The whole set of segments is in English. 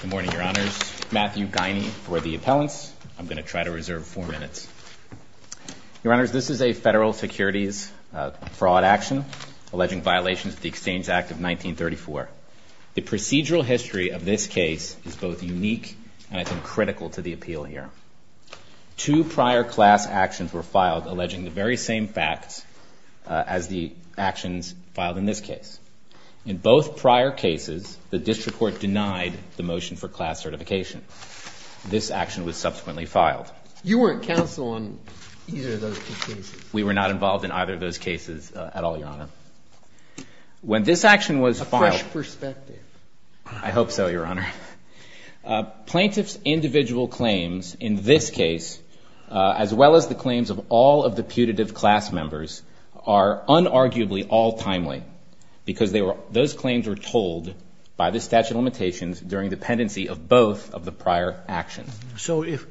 Good morning, Your Honors. Matthew Guiney for the appellants. I'm going to try to reserve four minutes. Your Honors, this is a federal securities fraud action alleging violations of the Exchange Act of 1934. The procedural history of this case is both unique and, I think, critical to the appeal here. Two prior class actions were filed alleging the very same facts as the actions filed in this case. In both prior cases, the district court denied the motion for class certification. This action was subsequently filed. You weren't counsel on either of those two cases? We were not involved in either of those cases at all, Your Honor. When this action was filed- A fresh perspective. I hope so, Your Honor. Plaintiff's individual claims in this case, as well as the claims of all of the putative class members, are unarguably all timely because those claims were told by the statute of limitations during dependency of both of the prior actions. So if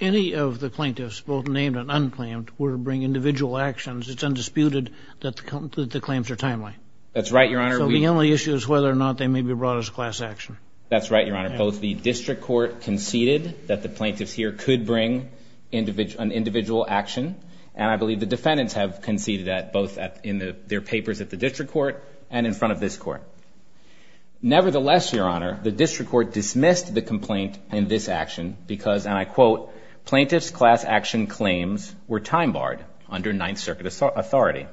any of the plaintiffs, both named and unclaimed, were to bring individual actions, it's undisputed that the claims are timely? That's right, Your Honor. So the only issue is whether or not they may be brought as class action? That's right, Your Honor. Both the district court conceded that the plaintiffs here could bring an individual action, and I believe the defendants have conceded that both in their papers at the district court and in front of this court. Nevertheless, Your Honor, the district court dismissed the complaint in this action because, and I quote, plaintiff's class action claims were time-barred under Ninth Circuit authority.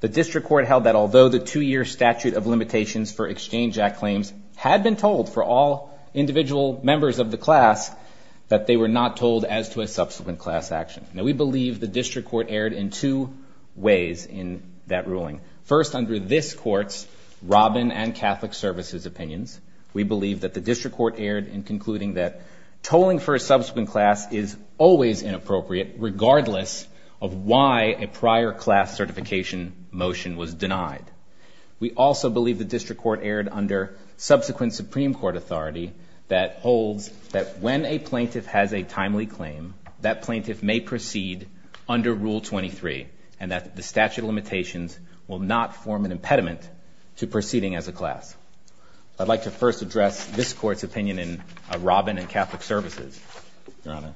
The district court held that although the two-year statute of limitations for Exchange Act claims had been told for all individual members of the class, that they were not told as to a subsequent class action. Now, we believe the district court erred in two ways in that ruling. First, under this court's Robin and Catholic Services opinions, we believe that the district court erred in concluding that tolling for a subsequent class is always inappropriate regardless of why a prior class certification motion was denied. We also believe the district court erred under subsequent Supreme Court authority that holds that when a plaintiff has a timely claim, that plaintiff may proceed under Rule 23 and that the statute of limitations will not form an impediment to proceeding as a class. I'd like to first address this court's opinion in Robin and Catholic Services, Your Honor.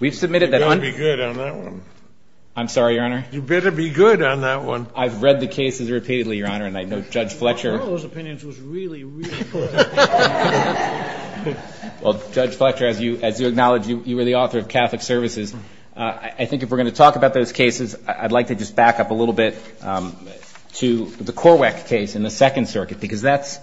You better be good on that one. I'm sorry, Your Honor? You better be good on that one. I've read the cases repeatedly, Your Honor, and I know Judge Fletcher. One of those opinions was really, really good. Well, Judge Fletcher, as you acknowledge, you were the author of Catholic Services. I think if we're going to talk about those cases, I'd like to just back up a little bit to the Corweck case in the Second Circuit because that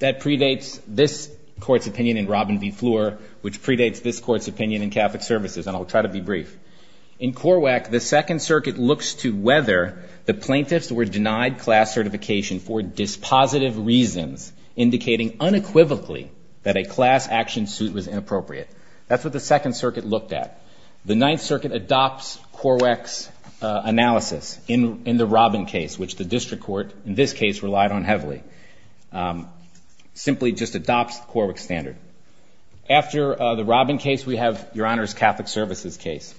predates this court's opinion in Robin v. Fleur, which predates this court's opinion in Catholic Services, and I'll try to be brief. In Corweck, the Second Circuit looks to whether the plaintiffs were denied class certification for dispositive reasons indicating unequivocally that a class action suit was inappropriate. That's what the Second Circuit looked at. The Ninth Circuit adopts Corweck's analysis in the Robin case, which the district court in this case relied on heavily, simply just adopts the Corweck standard. After the Robin case, we have Your Honor's Catholic Services case,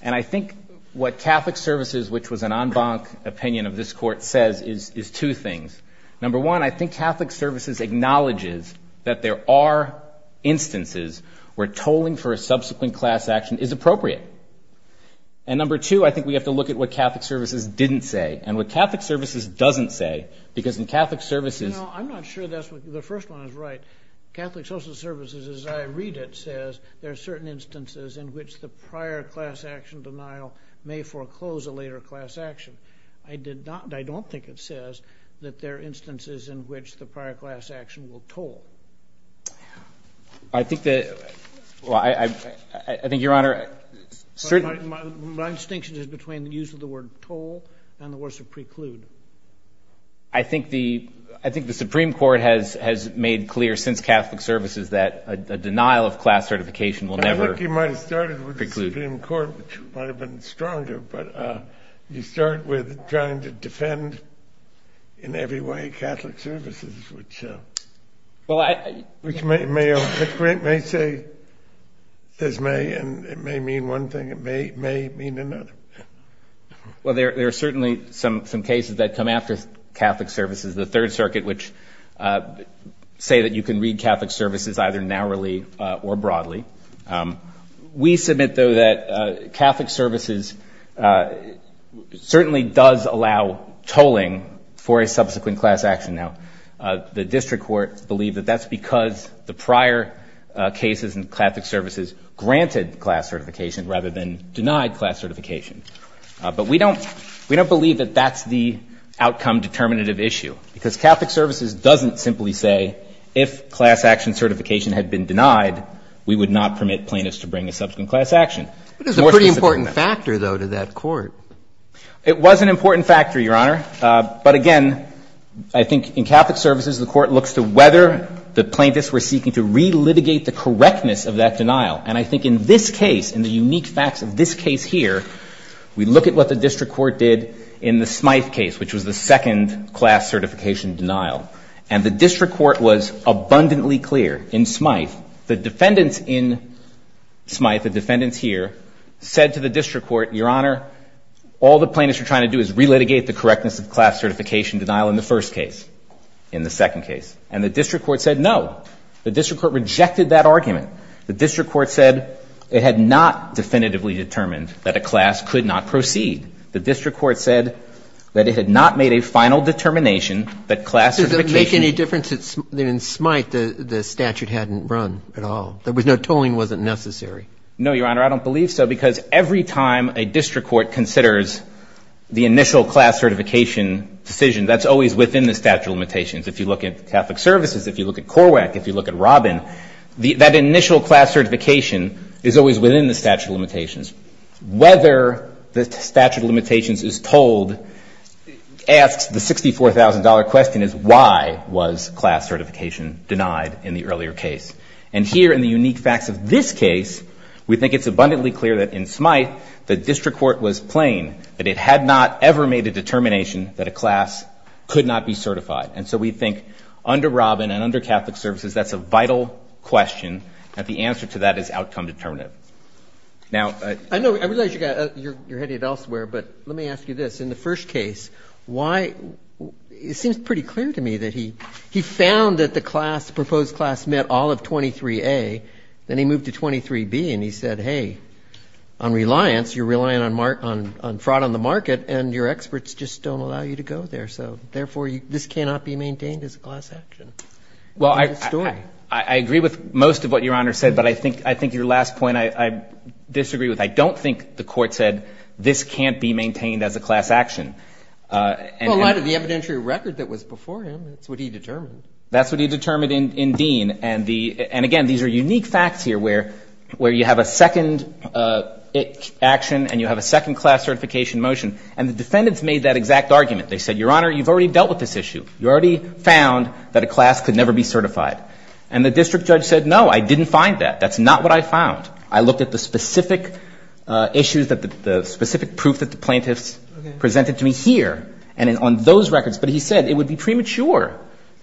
and I think what Catholic Services, which was an en banc opinion of this court, says is two things. Number one, I think Catholic Services acknowledges that there are instances where tolling for a subsequent class action is appropriate, and number two, I think we have to look at what Catholic Services didn't say and what Catholic Services doesn't say because in Catholic Services ‑‑ Catholic Social Services, as I read it, says there are certain instances in which the prior class action denial may foreclose a later class action. I don't think it says that there are instances in which the prior class action will toll. I think that ‑‑ well, I think, Your Honor, certain ‑‑ My distinction is between the use of the word toll and the word preclude. I think the Supreme Court has made clear since Catholic Services that a denial of class certification will never preclude. I think you might have started with the Supreme Court, which might have been stronger, but you start with trying to defend in every way Catholic Services, which may say it may mean one thing, it may mean another. Well, there are certainly some cases that come after Catholic Services, the Third Circuit, which say that you can read Catholic Services either narrowly or broadly. We submit, though, that Catholic Services certainly does allow tolling for a subsequent class action. Now, the district court believed that that's because the prior cases in Catholic Services granted class certification rather than denied class certification. But we don't believe that that's the outcome determinative issue, because Catholic Services doesn't simply say if class action certification had been denied, we would not permit plaintiffs to bring a subsequent class action. But it's a pretty important factor, though, to that court. It was an important factor, Your Honor. But, again, I think in Catholic Services, the court looks to whether the plaintiffs were seeking to relitigate the correctness of that denial. And I think in this case, in the unique facts of this case here, we look at what the district court did in the Smythe case, which was the second class certification denial. And the district court was abundantly clear in Smythe. The defendants in Smythe, the defendants here, said to the district court, Your Honor, all the plaintiffs are trying to do is relitigate the correctness of the class certification denial in the first case, in the second case. And the district court said no. The district court rejected that argument. The district court said it had not definitively determined that a class could not proceed. The district court said that it had not made a final determination that class certification ---- Does it make any difference that in Smythe the statute hadn't run at all? There was no tolling that wasn't necessary. No, Your Honor. I don't believe so, because every time a district court considers the initial class certification decision, that's always within the statute of limitations. If you look at Catholic Services, if you look at Corweck, if you look at Robin, that initial class certification is always within the statute of limitations. Whether the statute of limitations is tolled asks the $64,000 question is why was class certification denied in the earlier case? And here in the unique facts of this case, we think it's abundantly clear that in Smythe the district court was plain that it had not ever made a determination that a class could not be certified. And so we think under Robin and under Catholic Services, that's a vital question and the answer to that is outcome determinative. Now ---- I realize you're heading elsewhere, but let me ask you this. In the first case, why ---- it seems pretty clear to me that he found that the class, the proposed class met all of 23A, then he moved to 23B and he said, hey, on reliance, you're relying on fraud on the market and your experts just don't allow you to go there. So therefore, this cannot be maintained as a class action. Well, I agree with most of what Your Honor said, but I think your last point I disagree with. I don't think the court said this can't be maintained as a class action. Well, a lot of the evidentiary record that was before him, that's what he determined. That's what he determined in Dean. And again, these are unique facts here where you have a second action and you have a second class certification motion. And the defendants made that exact argument. They said, Your Honor, you've already dealt with this issue. You already found that a class could never be certified. And the district judge said, no, I didn't find that. That's not what I found. I looked at the specific issues that the specific proof that the plaintiffs presented to me here and on those records. But he said it would be premature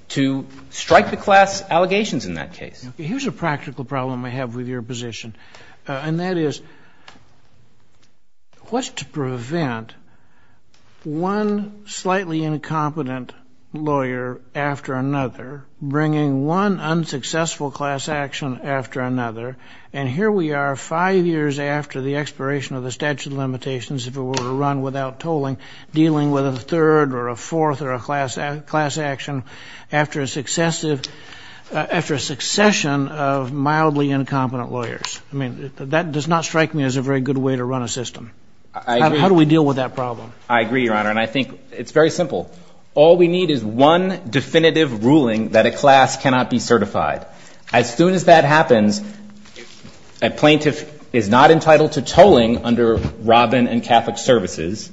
to strike the class allegations in that case. Here's a practical problem I have with your position. And that is, what's to prevent one slightly incompetent lawyer after another bringing one unsuccessful class action after another? And here we are five years after the expiration of the statute of limitations, if it were to run without tolling, dealing with a third or a fourth or a class action after a succession of mildly incompetent lawyers. I mean, that does not strike me as a very good way to run a system. How do we deal with that problem? I agree, Your Honor. And I think it's very simple. All we need is one definitive ruling that a class cannot be certified. As soon as that happens, a plaintiff is not entitled to tolling under Robin and Catholic Services.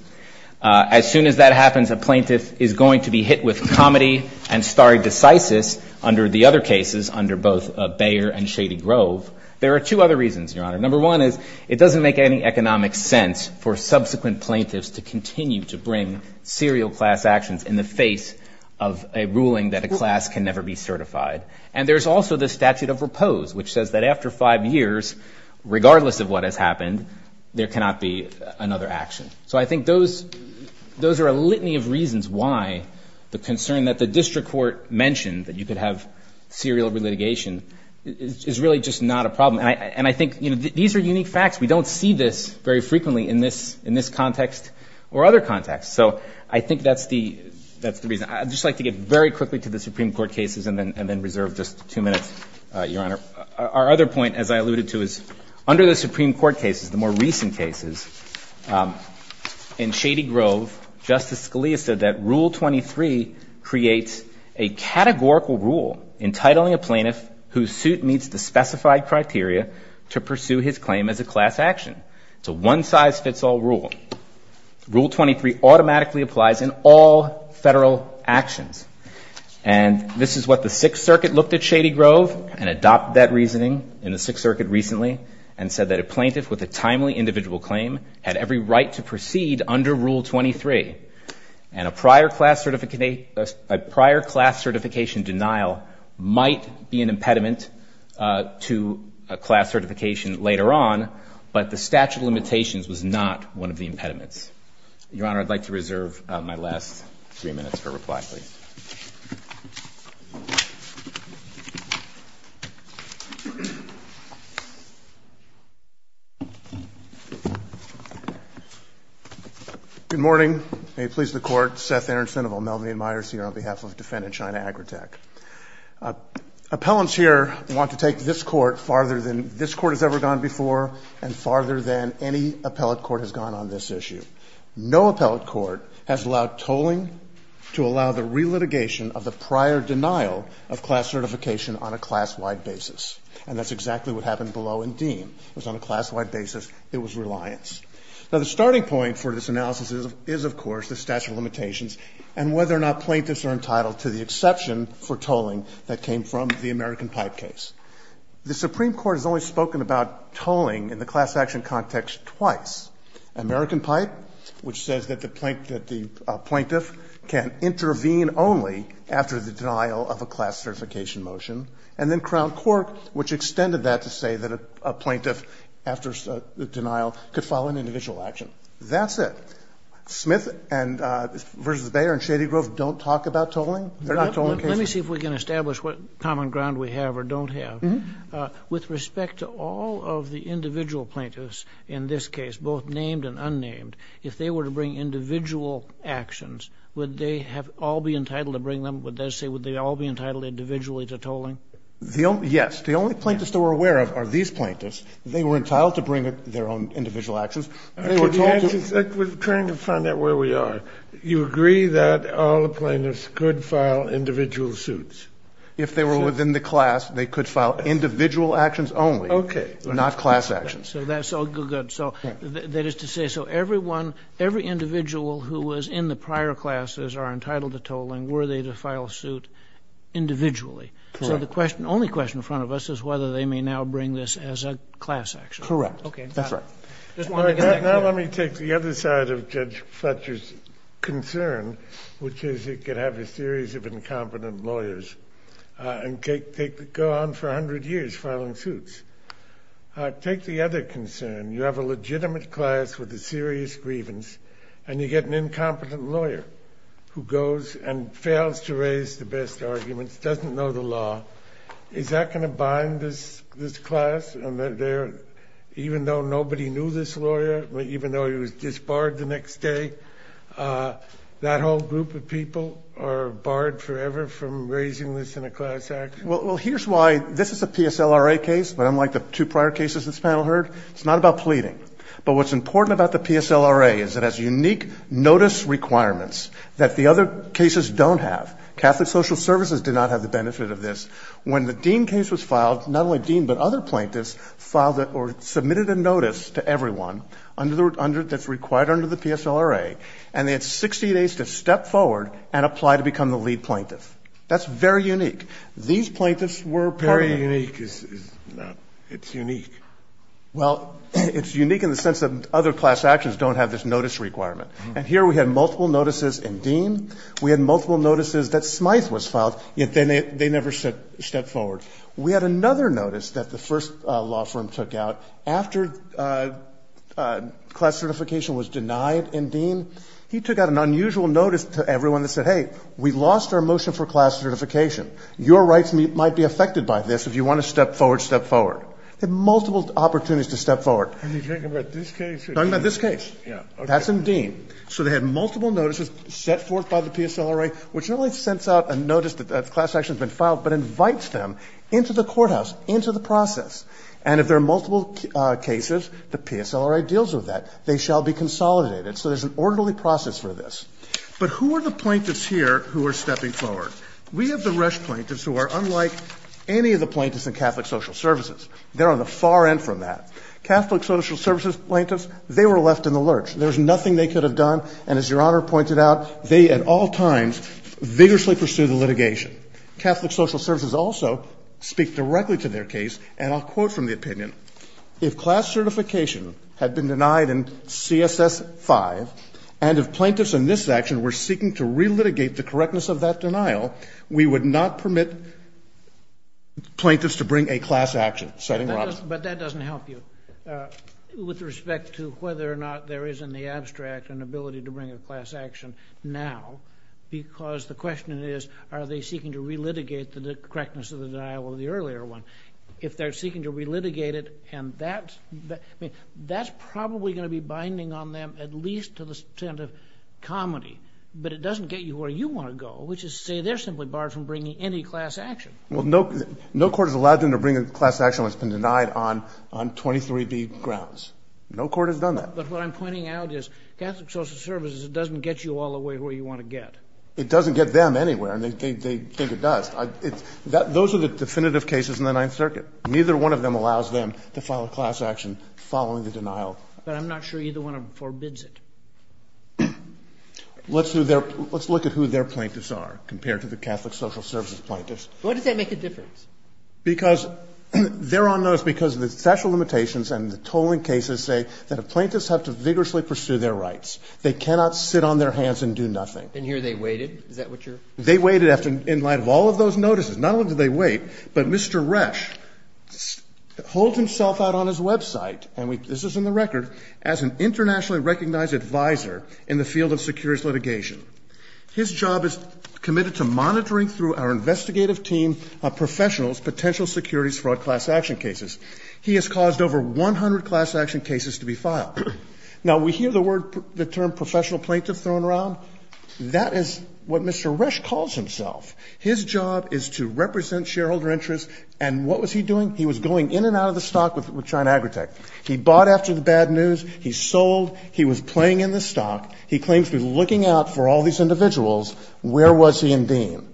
As soon as that happens, a plaintiff is going to be hit with comedy and star decisis under the other cases, under both Bayer and Shady Grove. There are two other reasons, Your Honor. Number one is, it doesn't make any economic sense for subsequent plaintiffs to continue to bring serial class actions in the face of a ruling that a class can never be certified. And there's also the statute of repose, which says that after five years, regardless of what has happened, there cannot be another action. So I think those are a litany of reasons why the concern that the district court mentioned, that you could have serial litigation, is really just not a problem. And I think these are unique facts. We don't see this very frequently in this context or other contexts. So I think that's the reason. I'd just like to get very quickly to the Supreme Court cases and then reserve just two minutes, Your Honor. Our other point, as I alluded to, is under the Supreme Court cases, the more recent cases, in Shady Grove, Justice Scalia said that Rule 23 creates a categorical rule entitling a plaintiff whose suit meets the specified criteria to pursue his claim as a class action. It's a one-size-fits-all rule. Rule 23 automatically applies in all Federal actions. And this is what the Sixth Circuit looked at Shady Grove and adopted that reasoning in the Sixth Circuit recently and said that a plaintiff with a timely individual claim had every right to proceed under Rule 23. And a prior class certification denial might be an impediment to a class certification later on, but the statute of limitations was not one of the impediments. Your Honor, I'd like to reserve my last three minutes for reply, please. Good morning. May it please the Court. Seth Aronson of O'Melveny & Myers here on behalf of Defendant China Agrotech. Appellants here want to take this Court farther than this Court has ever gone before and farther than any appellate court has gone on this issue. No appellate court has allowed tolling to allow the relitigation of the prior denial of class certification on a class-wide basis. And that's exactly what happened below in Dean. It was on a class-wide basis. It was reliance. Now, the starting point for this analysis is, of course, the statute of limitations and whether or not plaintiffs are entitled to the exception for tolling that came from the American Pipe case. The Supreme Court has only spoken about tolling in the class action context twice. American Pipe, which says that the plaintiff can intervene only after the denial of a class certification motion, and then Crown Court, which extended that to say that a plaintiff, after the denial, could file an individual action. That's it. Smith v. Bayer and Shadygrove don't talk about tolling. They're not tolling cases. Let me see if we can establish what common ground we have or don't have. With respect to all of the individual plaintiffs in this case, both named and unnamed, if they were to bring individual actions, would they all be entitled to bring them? Would they all be entitled individually to tolling? Yes. The only plaintiffs that we're aware of are these plaintiffs. They were entitled to bring their own individual actions. We're trying to find out where we are. You agree that all the plaintiffs could file individual suits? If they were within the class, they could file individual actions only. Okay. Not class actions. So that's all good. So that is to say, so everyone, every individual who was in the prior classes are entitled to tolling. Were they to file suit individually? Correct. So the only question in front of us is whether they may now bring this as a class action. Correct. Okay. That's right. Now let me take the other side of Judge Fletcher's concern, which is he could have a series of incompetent lawyers and go on for 100 years filing suits. Take the other concern. You have a legitimate class with a serious grievance, and you get an incompetent lawyer who goes and fails to raise the best arguments, doesn't know the law. Is that going to bind this class? Even though nobody knew this lawyer, even though he was disbarred the next day, that whole group of people are barred forever from raising this in a class action? Well, here's why. This is a PSLRA case, but unlike the two prior cases this panel heard, it's not about pleading. But what's important about the PSLRA is it has unique notice requirements that the other cases don't have. Catholic Social Services did not have the benefit of this. When the Dean case was filed, not only Dean, but other plaintiffs filed or submitted a notice to everyone that's required under the PSLRA, and they had 60 days to step forward and apply to become the lead plaintiff. That's very unique. These plaintiffs were part of the Very unique. It's unique. Well, it's unique in the sense that other class actions don't have this notice requirement. And here we had multiple notices in Dean. We had multiple notices that Smythe was filed, yet they never stepped forward. We had another notice that the first law firm took out after class certification was denied in Dean. He took out an unusual notice to everyone that said, hey, we lost our motion for class certification. Your rights might be affected by this. If you want to step forward, step forward. They had multiple opportunities to step forward. Are you talking about this case? I'm talking about this case. Yeah. That's in Dean. So they had multiple notices set forth by the PSLRA, which not only sends out a notice that class action has been filed, but invites them into the courthouse, into the process. And if there are multiple cases, the PSLRA deals with that. They shall be consolidated. So there's an orderly process for this. But who are the plaintiffs here who are stepping forward? We have the Resch plaintiffs who are unlike any of the plaintiffs in Catholic Social Services. They're on the far end from that. Catholic Social Services plaintiffs, they were left in the lurch. There was nothing they could have done. And as Your Honor pointed out, they at all times vigorously pursued the litigation. Catholic Social Services also speak directly to their case, and I'll quote from the opinion. If class certification had been denied in CSS5, and if plaintiffs in this section were seeking to relitigate the correctness of that denial, we would not permit plaintiffs to bring a class action. But that doesn't help you with respect to whether or not there is in the abstract an ability to bring a class action now. Because the question is, are they seeking to relitigate the correctness of the denial of the earlier one? If they're seeking to relitigate it, and that's probably going to be binding on them at least to the extent of comedy. But it doesn't get you where you want to go, which is to say they're simply barred from bringing any class action. Well, no court has allowed them to bring a class action that's been denied on 23B grounds. No court has done that. But what I'm pointing out is Catholic Social Services doesn't get you all the way where you want to get. It doesn't get them anywhere, and they think it does. Those are the definitive cases in the Ninth Circuit. Neither one of them allows them to file a class action following the denial. But I'm not sure either one of them forbids it. Let's look at who their plaintiffs are compared to the Catholic Social Services plaintiffs. Why does that make a difference? Because they're on notice because of the special limitations and the tolling cases say that a plaintiff has to vigorously pursue their rights. They cannot sit on their hands and do nothing. And here they waited. Is that what you're saying? They waited in light of all of those notices. Not only did they wait, but Mr. Resch holds himself out on his website, and this is in record, as an internationally recognized advisor in the field of securities litigation. His job is committed to monitoring through our investigative team of professionals potential securities fraud class action cases. He has caused over 100 class action cases to be filed. Now, we hear the term professional plaintiff thrown around. That is what Mr. Resch calls himself. His job is to represent shareholder interests. And what was he doing? He was going in and out of the stock with China Agritech. He bought after the bad news. He sold. He was playing in the stock. He claims to be looking out for all these individuals. Where was he in Dean?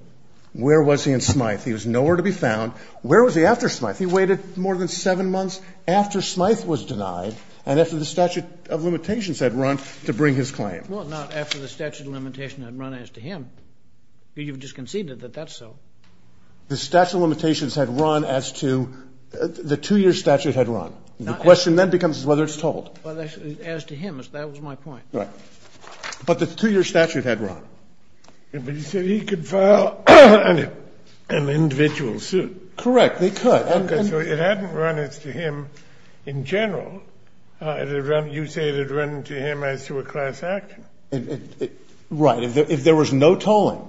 Where was he in Smythe? He was nowhere to be found. Where was he after Smythe? He waited more than seven months after Smythe was denied and after the statute of limitations had run to bring his claim. Well, not after the statute of limitations had run as to him. You've just conceded that that's so. The statute of limitations had run as to the two-year statute had run. The question then becomes whether it's tolled. As to him. That was my point. Right. But the two-year statute had run. But you said he could file an individual suit. Correct. They could. Okay. So it hadn't run as to him in general. You say it had run to him as to a class action. Right. If there was no tolling,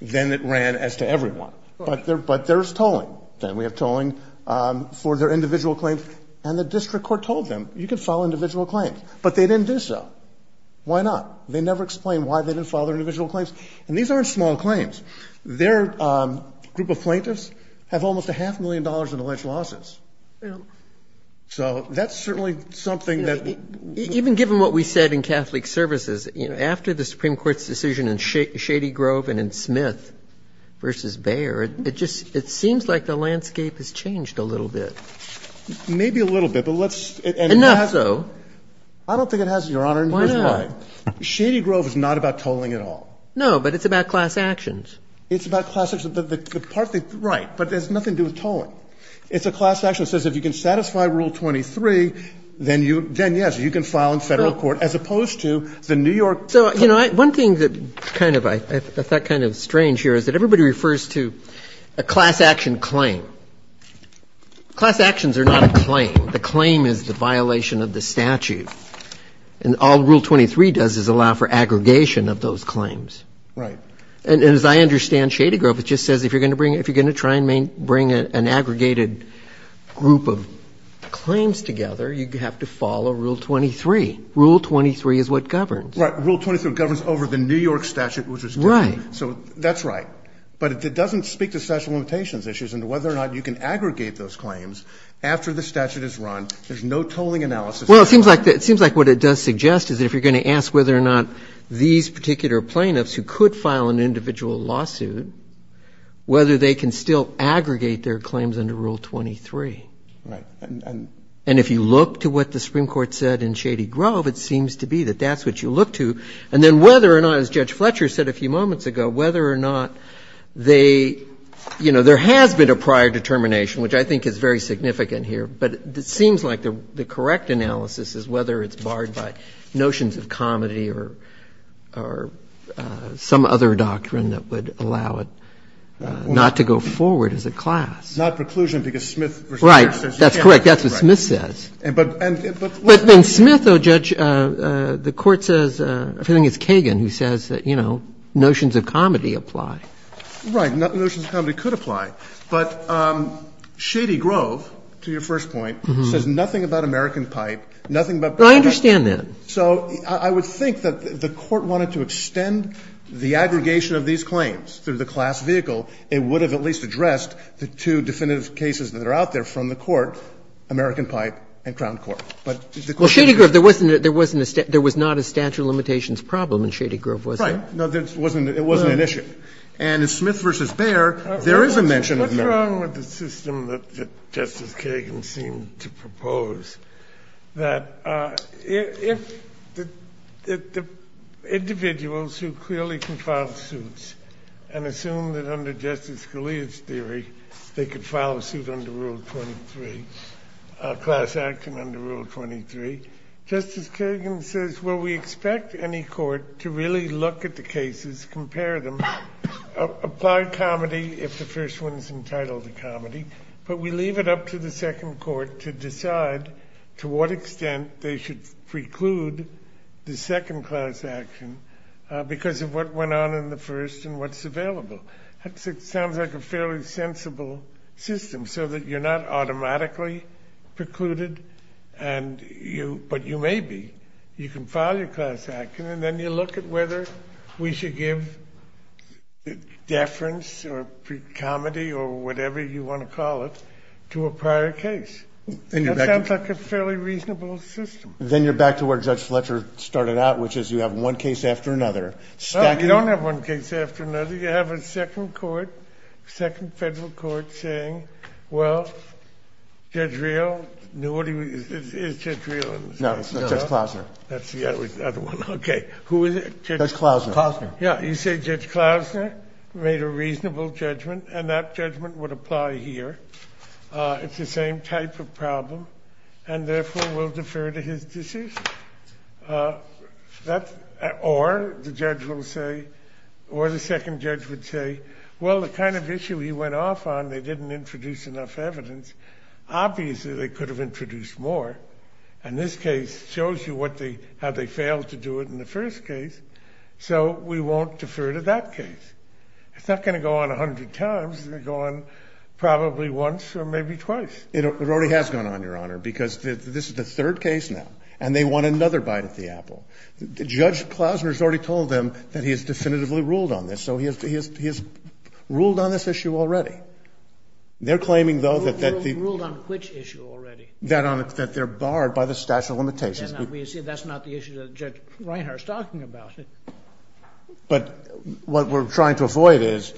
then it ran as to everyone. Right. But there's tolling. There's tolling. We have tolling for their individual claims. And the district court told them, you can file individual claims. But they didn't do so. Why not? They never explained why they didn't file their individual claims. And these aren't small claims. Their group of plaintiffs have almost a half million dollars in alleged losses. So that's certainly something that we need. Even given what we said in Catholic Services, you know, after the Supreme Court's decision in Shady Grove and in Smith v. Bayer, it just seems like the landscape has changed a little bit. Maybe a little bit. Enough so. I don't think it has, Your Honor. Why not? Shady Grove is not about tolling at all. No, but it's about class actions. It's about class actions. Right. But it has nothing to do with tolling. It's a class action that says if you can satisfy Rule 23, then yes, you can file in Federal court, as opposed to the New York. So, you know, one thing that kind of I thought kind of strange here is that everybody refers to a class action claim. Class actions are not a claim. The claim is the violation of the statute. And all Rule 23 does is allow for aggregation of those claims. Right. And as I understand Shady Grove, it just says if you're going to bring an aggregated group of claims together, you have to follow Rule 23. Rule 23 is what governs. Right. Rule 23 governs over the New York statute, which is different. Right. So that's right. But it doesn't speak to statute of limitations issues and whether or not you can aggregate those claims after the statute is run. There's no tolling analysis. Well, it seems like what it does suggest is if you're going to ask whether or not these particular plaintiffs who could file an individual lawsuit, whether they can still aggregate their claims under Rule 23. Right. And if you look to what the Supreme Court said in Shady Grove, it seems to be that that's what you look to. And then whether or not, as Judge Fletcher said a few moments ago, whether or not they, you know, there has been a prior determination, which I think is very significant here. But it seems like the correct analysis is whether it's barred by notions of comedy or some other doctrine that would allow it not to go forward as a class. Not preclusion because Smith v. Brown. Right. That's correct. That's what Smith says. But then Smith, though, Judge, the Court says, I think it's Kagan who says that, you know, notions of comedy apply. Right. Notions of comedy could apply. But Shady Grove, to your first point, says nothing about American Pipe, nothing about Brown v. Brown. I understand that. So I would think that the Court wanted to extend the aggregation of these claims through the class vehicle. It would have at least addressed the two definitive cases that are out there from the Court, American Pipe and Crown Court. But the Court didn't. Well, Shady Grove, there wasn't a statute of limitations problem in Shady Grove, was there? Right. No, there wasn't. It wasn't an issue. And in Smith v. Baird, there is a mention of them. What's wrong with the system that Justice Kagan seemed to propose, that if the individuals who clearly can file suits and assume that under Justice Scalia's theory they could file a suit under Rule 23, a class action under Rule 23, Justice Kagan says, well, we expect any court to really look at the cases, compare them, apply comedy if the first one is entitled to comedy. But we leave it up to the second court to decide to what extent they should preclude the second class action because of what went on in the first and what's available. That sounds like a fairly sensible system so that you're not automatically precluded, but you may be. You can file your class action and then you look at whether we should give deference or comedy or whatever you want to call it to a prior case. That sounds like a fairly reasonable system. Then you're back to where Judge Fletcher started out, which is you have one case after another. You don't have one case after another. You have a second court, second federal court saying, well, Judge Real, is Judge Real? No, that's Judge Klausner. That's the other one. Okay. Who is it? Judge Klausner. Yeah, you say Judge Klausner made a reasonable judgment and that judgment would apply here. It's the same type of problem and therefore will defer to his decision. Or the judge will say, or the second judge would say, well, the kind of issue he went off on, they didn't introduce enough evidence. Obviously, they could have introduced more. And this case shows you how they failed to do it in the first case. So we won't defer to that case. It's not going to go on 100 times. It's going to go on probably once or maybe twice. It already has gone on, Your Honor, because this is the third case now. And they want another bite at the apple. Judge Klausner has already told them that he has definitively ruled on this. So he has ruled on this issue already. They're claiming, though, that the – Ruled on which issue already? That they're barred by the statute of limitations. That's not the issue that Judge Reinhart is talking about. But what we're trying to avoid is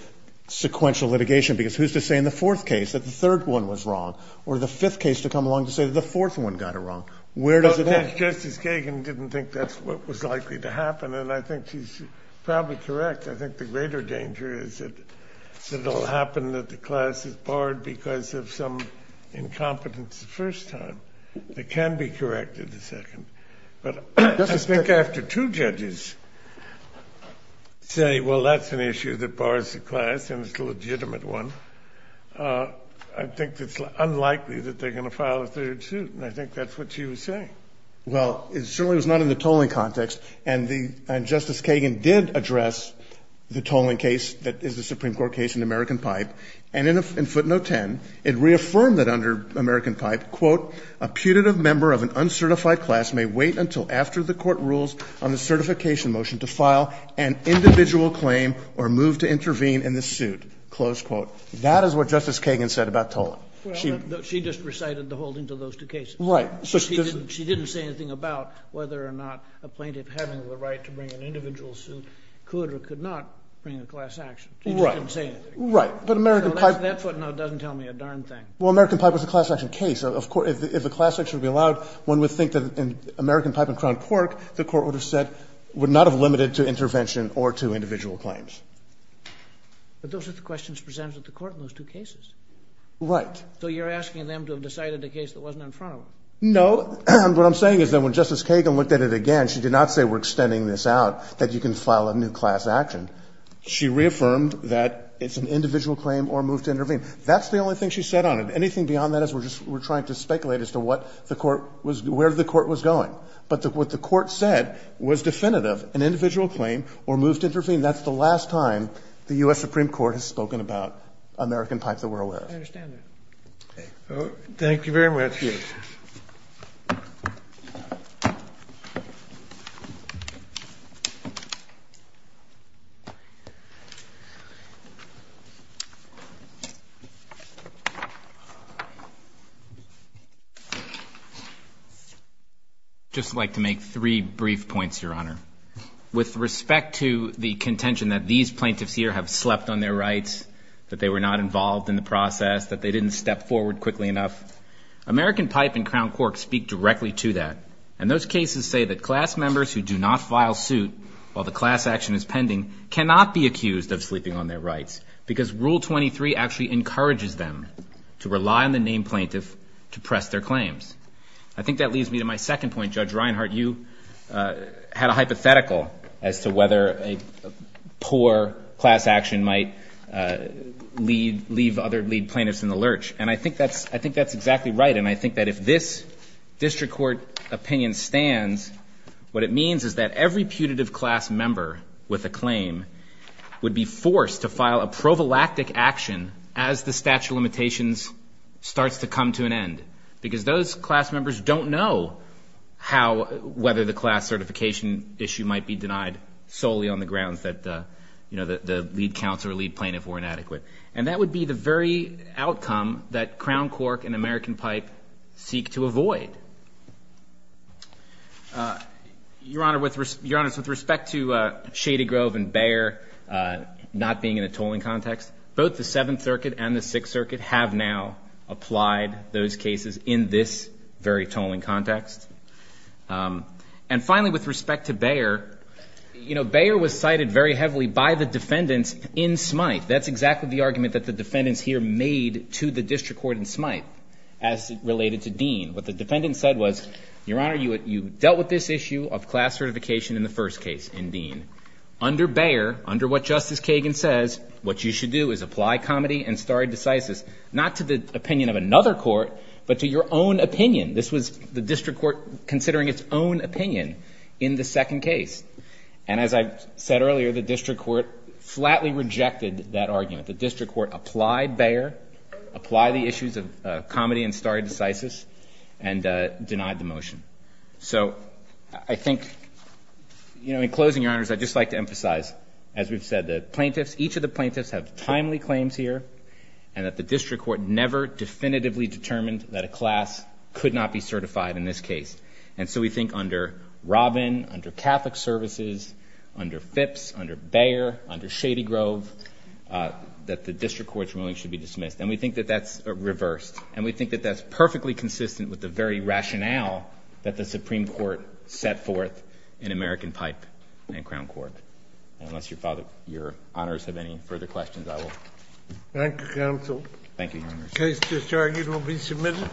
sequential litigation because who's to say in the fourth case that the third one was wrong or the fifth case to come along to say that the fourth one got it wrong? Where does it all come from? I think Justice Kagan didn't think that's what was likely to happen. And I think she's probably correct. I think the greater danger is that it will happen that the class is barred because of some incompetence the first time. It can be corrected the second. But I think after two judges say, well, that's an issue that bars the class and it's a legitimate one, I think it's unlikely that they're going to file a third suit. And I think that's what she was saying. Well, it certainly was not in the tolling context. And the – and Justice Kagan did address the tolling case that is the Supreme Court case in American Pipe. And in footnote 10, it reaffirmed that under American Pipe, quote, a putative member of an uncertified class may wait until after the court rules on the certification motion to file an individual claim or move to intervene in the suit, close quote. That is what Justice Kagan said about tolling. Well, she just recited the holdings of those two cases. Right. She didn't say anything about whether or not a plaintiff having the right to bring an individual suit could or could not bring a class action. Right. She just didn't say anything. Right. But American Pipe – That footnote doesn't tell me a darn thing. Well, American Pipe was a class action case. If a class action would be allowed, one would think that in American Pipe and Crown Cork, the Court would have said would not have limited to intervention or to individual claims. But those are the questions presented at the Court in those two cases. Right. So you're asking them to have decided a case that wasn't in front of them. No. What I'm saying is that when Justice Kagan looked at it again, she did not say we're extending this out, that you can file a new class action. She reaffirmed that it's an individual claim or move to intervene. That's the only thing she said on it. Anything beyond that is we're just – we're trying to speculate as to what the Court was – where the Court was going. But what the Court said was definitive, an individual claim or move to intervene. That's the last time the U.S. Supreme Court has spoken about American Pipe that we're aware of. I understand that. Okay. Thank you very much. Thank you. I'd just like to make three brief points, Your Honor. With respect to the contention that these plaintiffs here have slept on their rights, that they were not involved in the process, that they didn't step forward quickly enough, American Pipe and Crown Cork speak directly to that. And those cases say that class members who do not file suit while the class action is pending cannot be accused of sleeping on their rights because Rule 23 actually encourages them to rely on the named plaintiff to press their claims. I think that leads me to my second point. Judge Reinhart, you had a hypothetical as to whether a poor class action might lead – leave other lead plaintiffs in the lurch. And I think that's – I think that's exactly right. And I think that if this district court opinion stands, what it means is that every putative class member with a claim would be forced to file a provalactic action as the statute of limitations starts to come to an end because those class members don't know how – whether the class certification issue might be denied solely on the grounds that, you know, the lead counsel or lead plaintiff were inadequate. And that would be the very outcome that Crown Cork and American Pipe seek to avoid. Your Honor, with respect to Shady Grove and Bayer not being in a tolling context, both the Seventh Circuit and the Sixth Circuit have now applied those cases in this very tolling context. And finally, with respect to Bayer, you know, Bayer was cited very heavily by the defendants in Smythe. That's exactly the argument that the defendants here made to the district court in Smythe as related to Dean. What the defendants said was, Your Honor, you dealt with this issue of class certification in the first case in Dean. Under Bayer, under what Justice Kagan says, what you should do is apply comity and stare decisis, not to the opinion of another court, but to your own opinion. This was the district court considering its own opinion in the second case. And as I said earlier, the district court flatly rejected that argument. The district court applied Bayer, applied the issues of comity and stare decisis, and denied the motion. So I think, you know, in closing, Your Honors, I'd just like to emphasize, as we've said, the plaintiffs, each of the plaintiffs have timely claims here, and that the district court never definitively determined that a class could not be certified in this case. And so we think under Robin, under Catholic Services, under Phipps, under Bayer, under Shady Grove, and we think that that's reversed, and we think that that's perfectly consistent with the very rationale that the Supreme Court set forth in American Pipe and Crown Court. And unless Your Honors have any further questions, I will. Thank you, Counsel. Thank you, Your Honors. The case just argued will be submitted.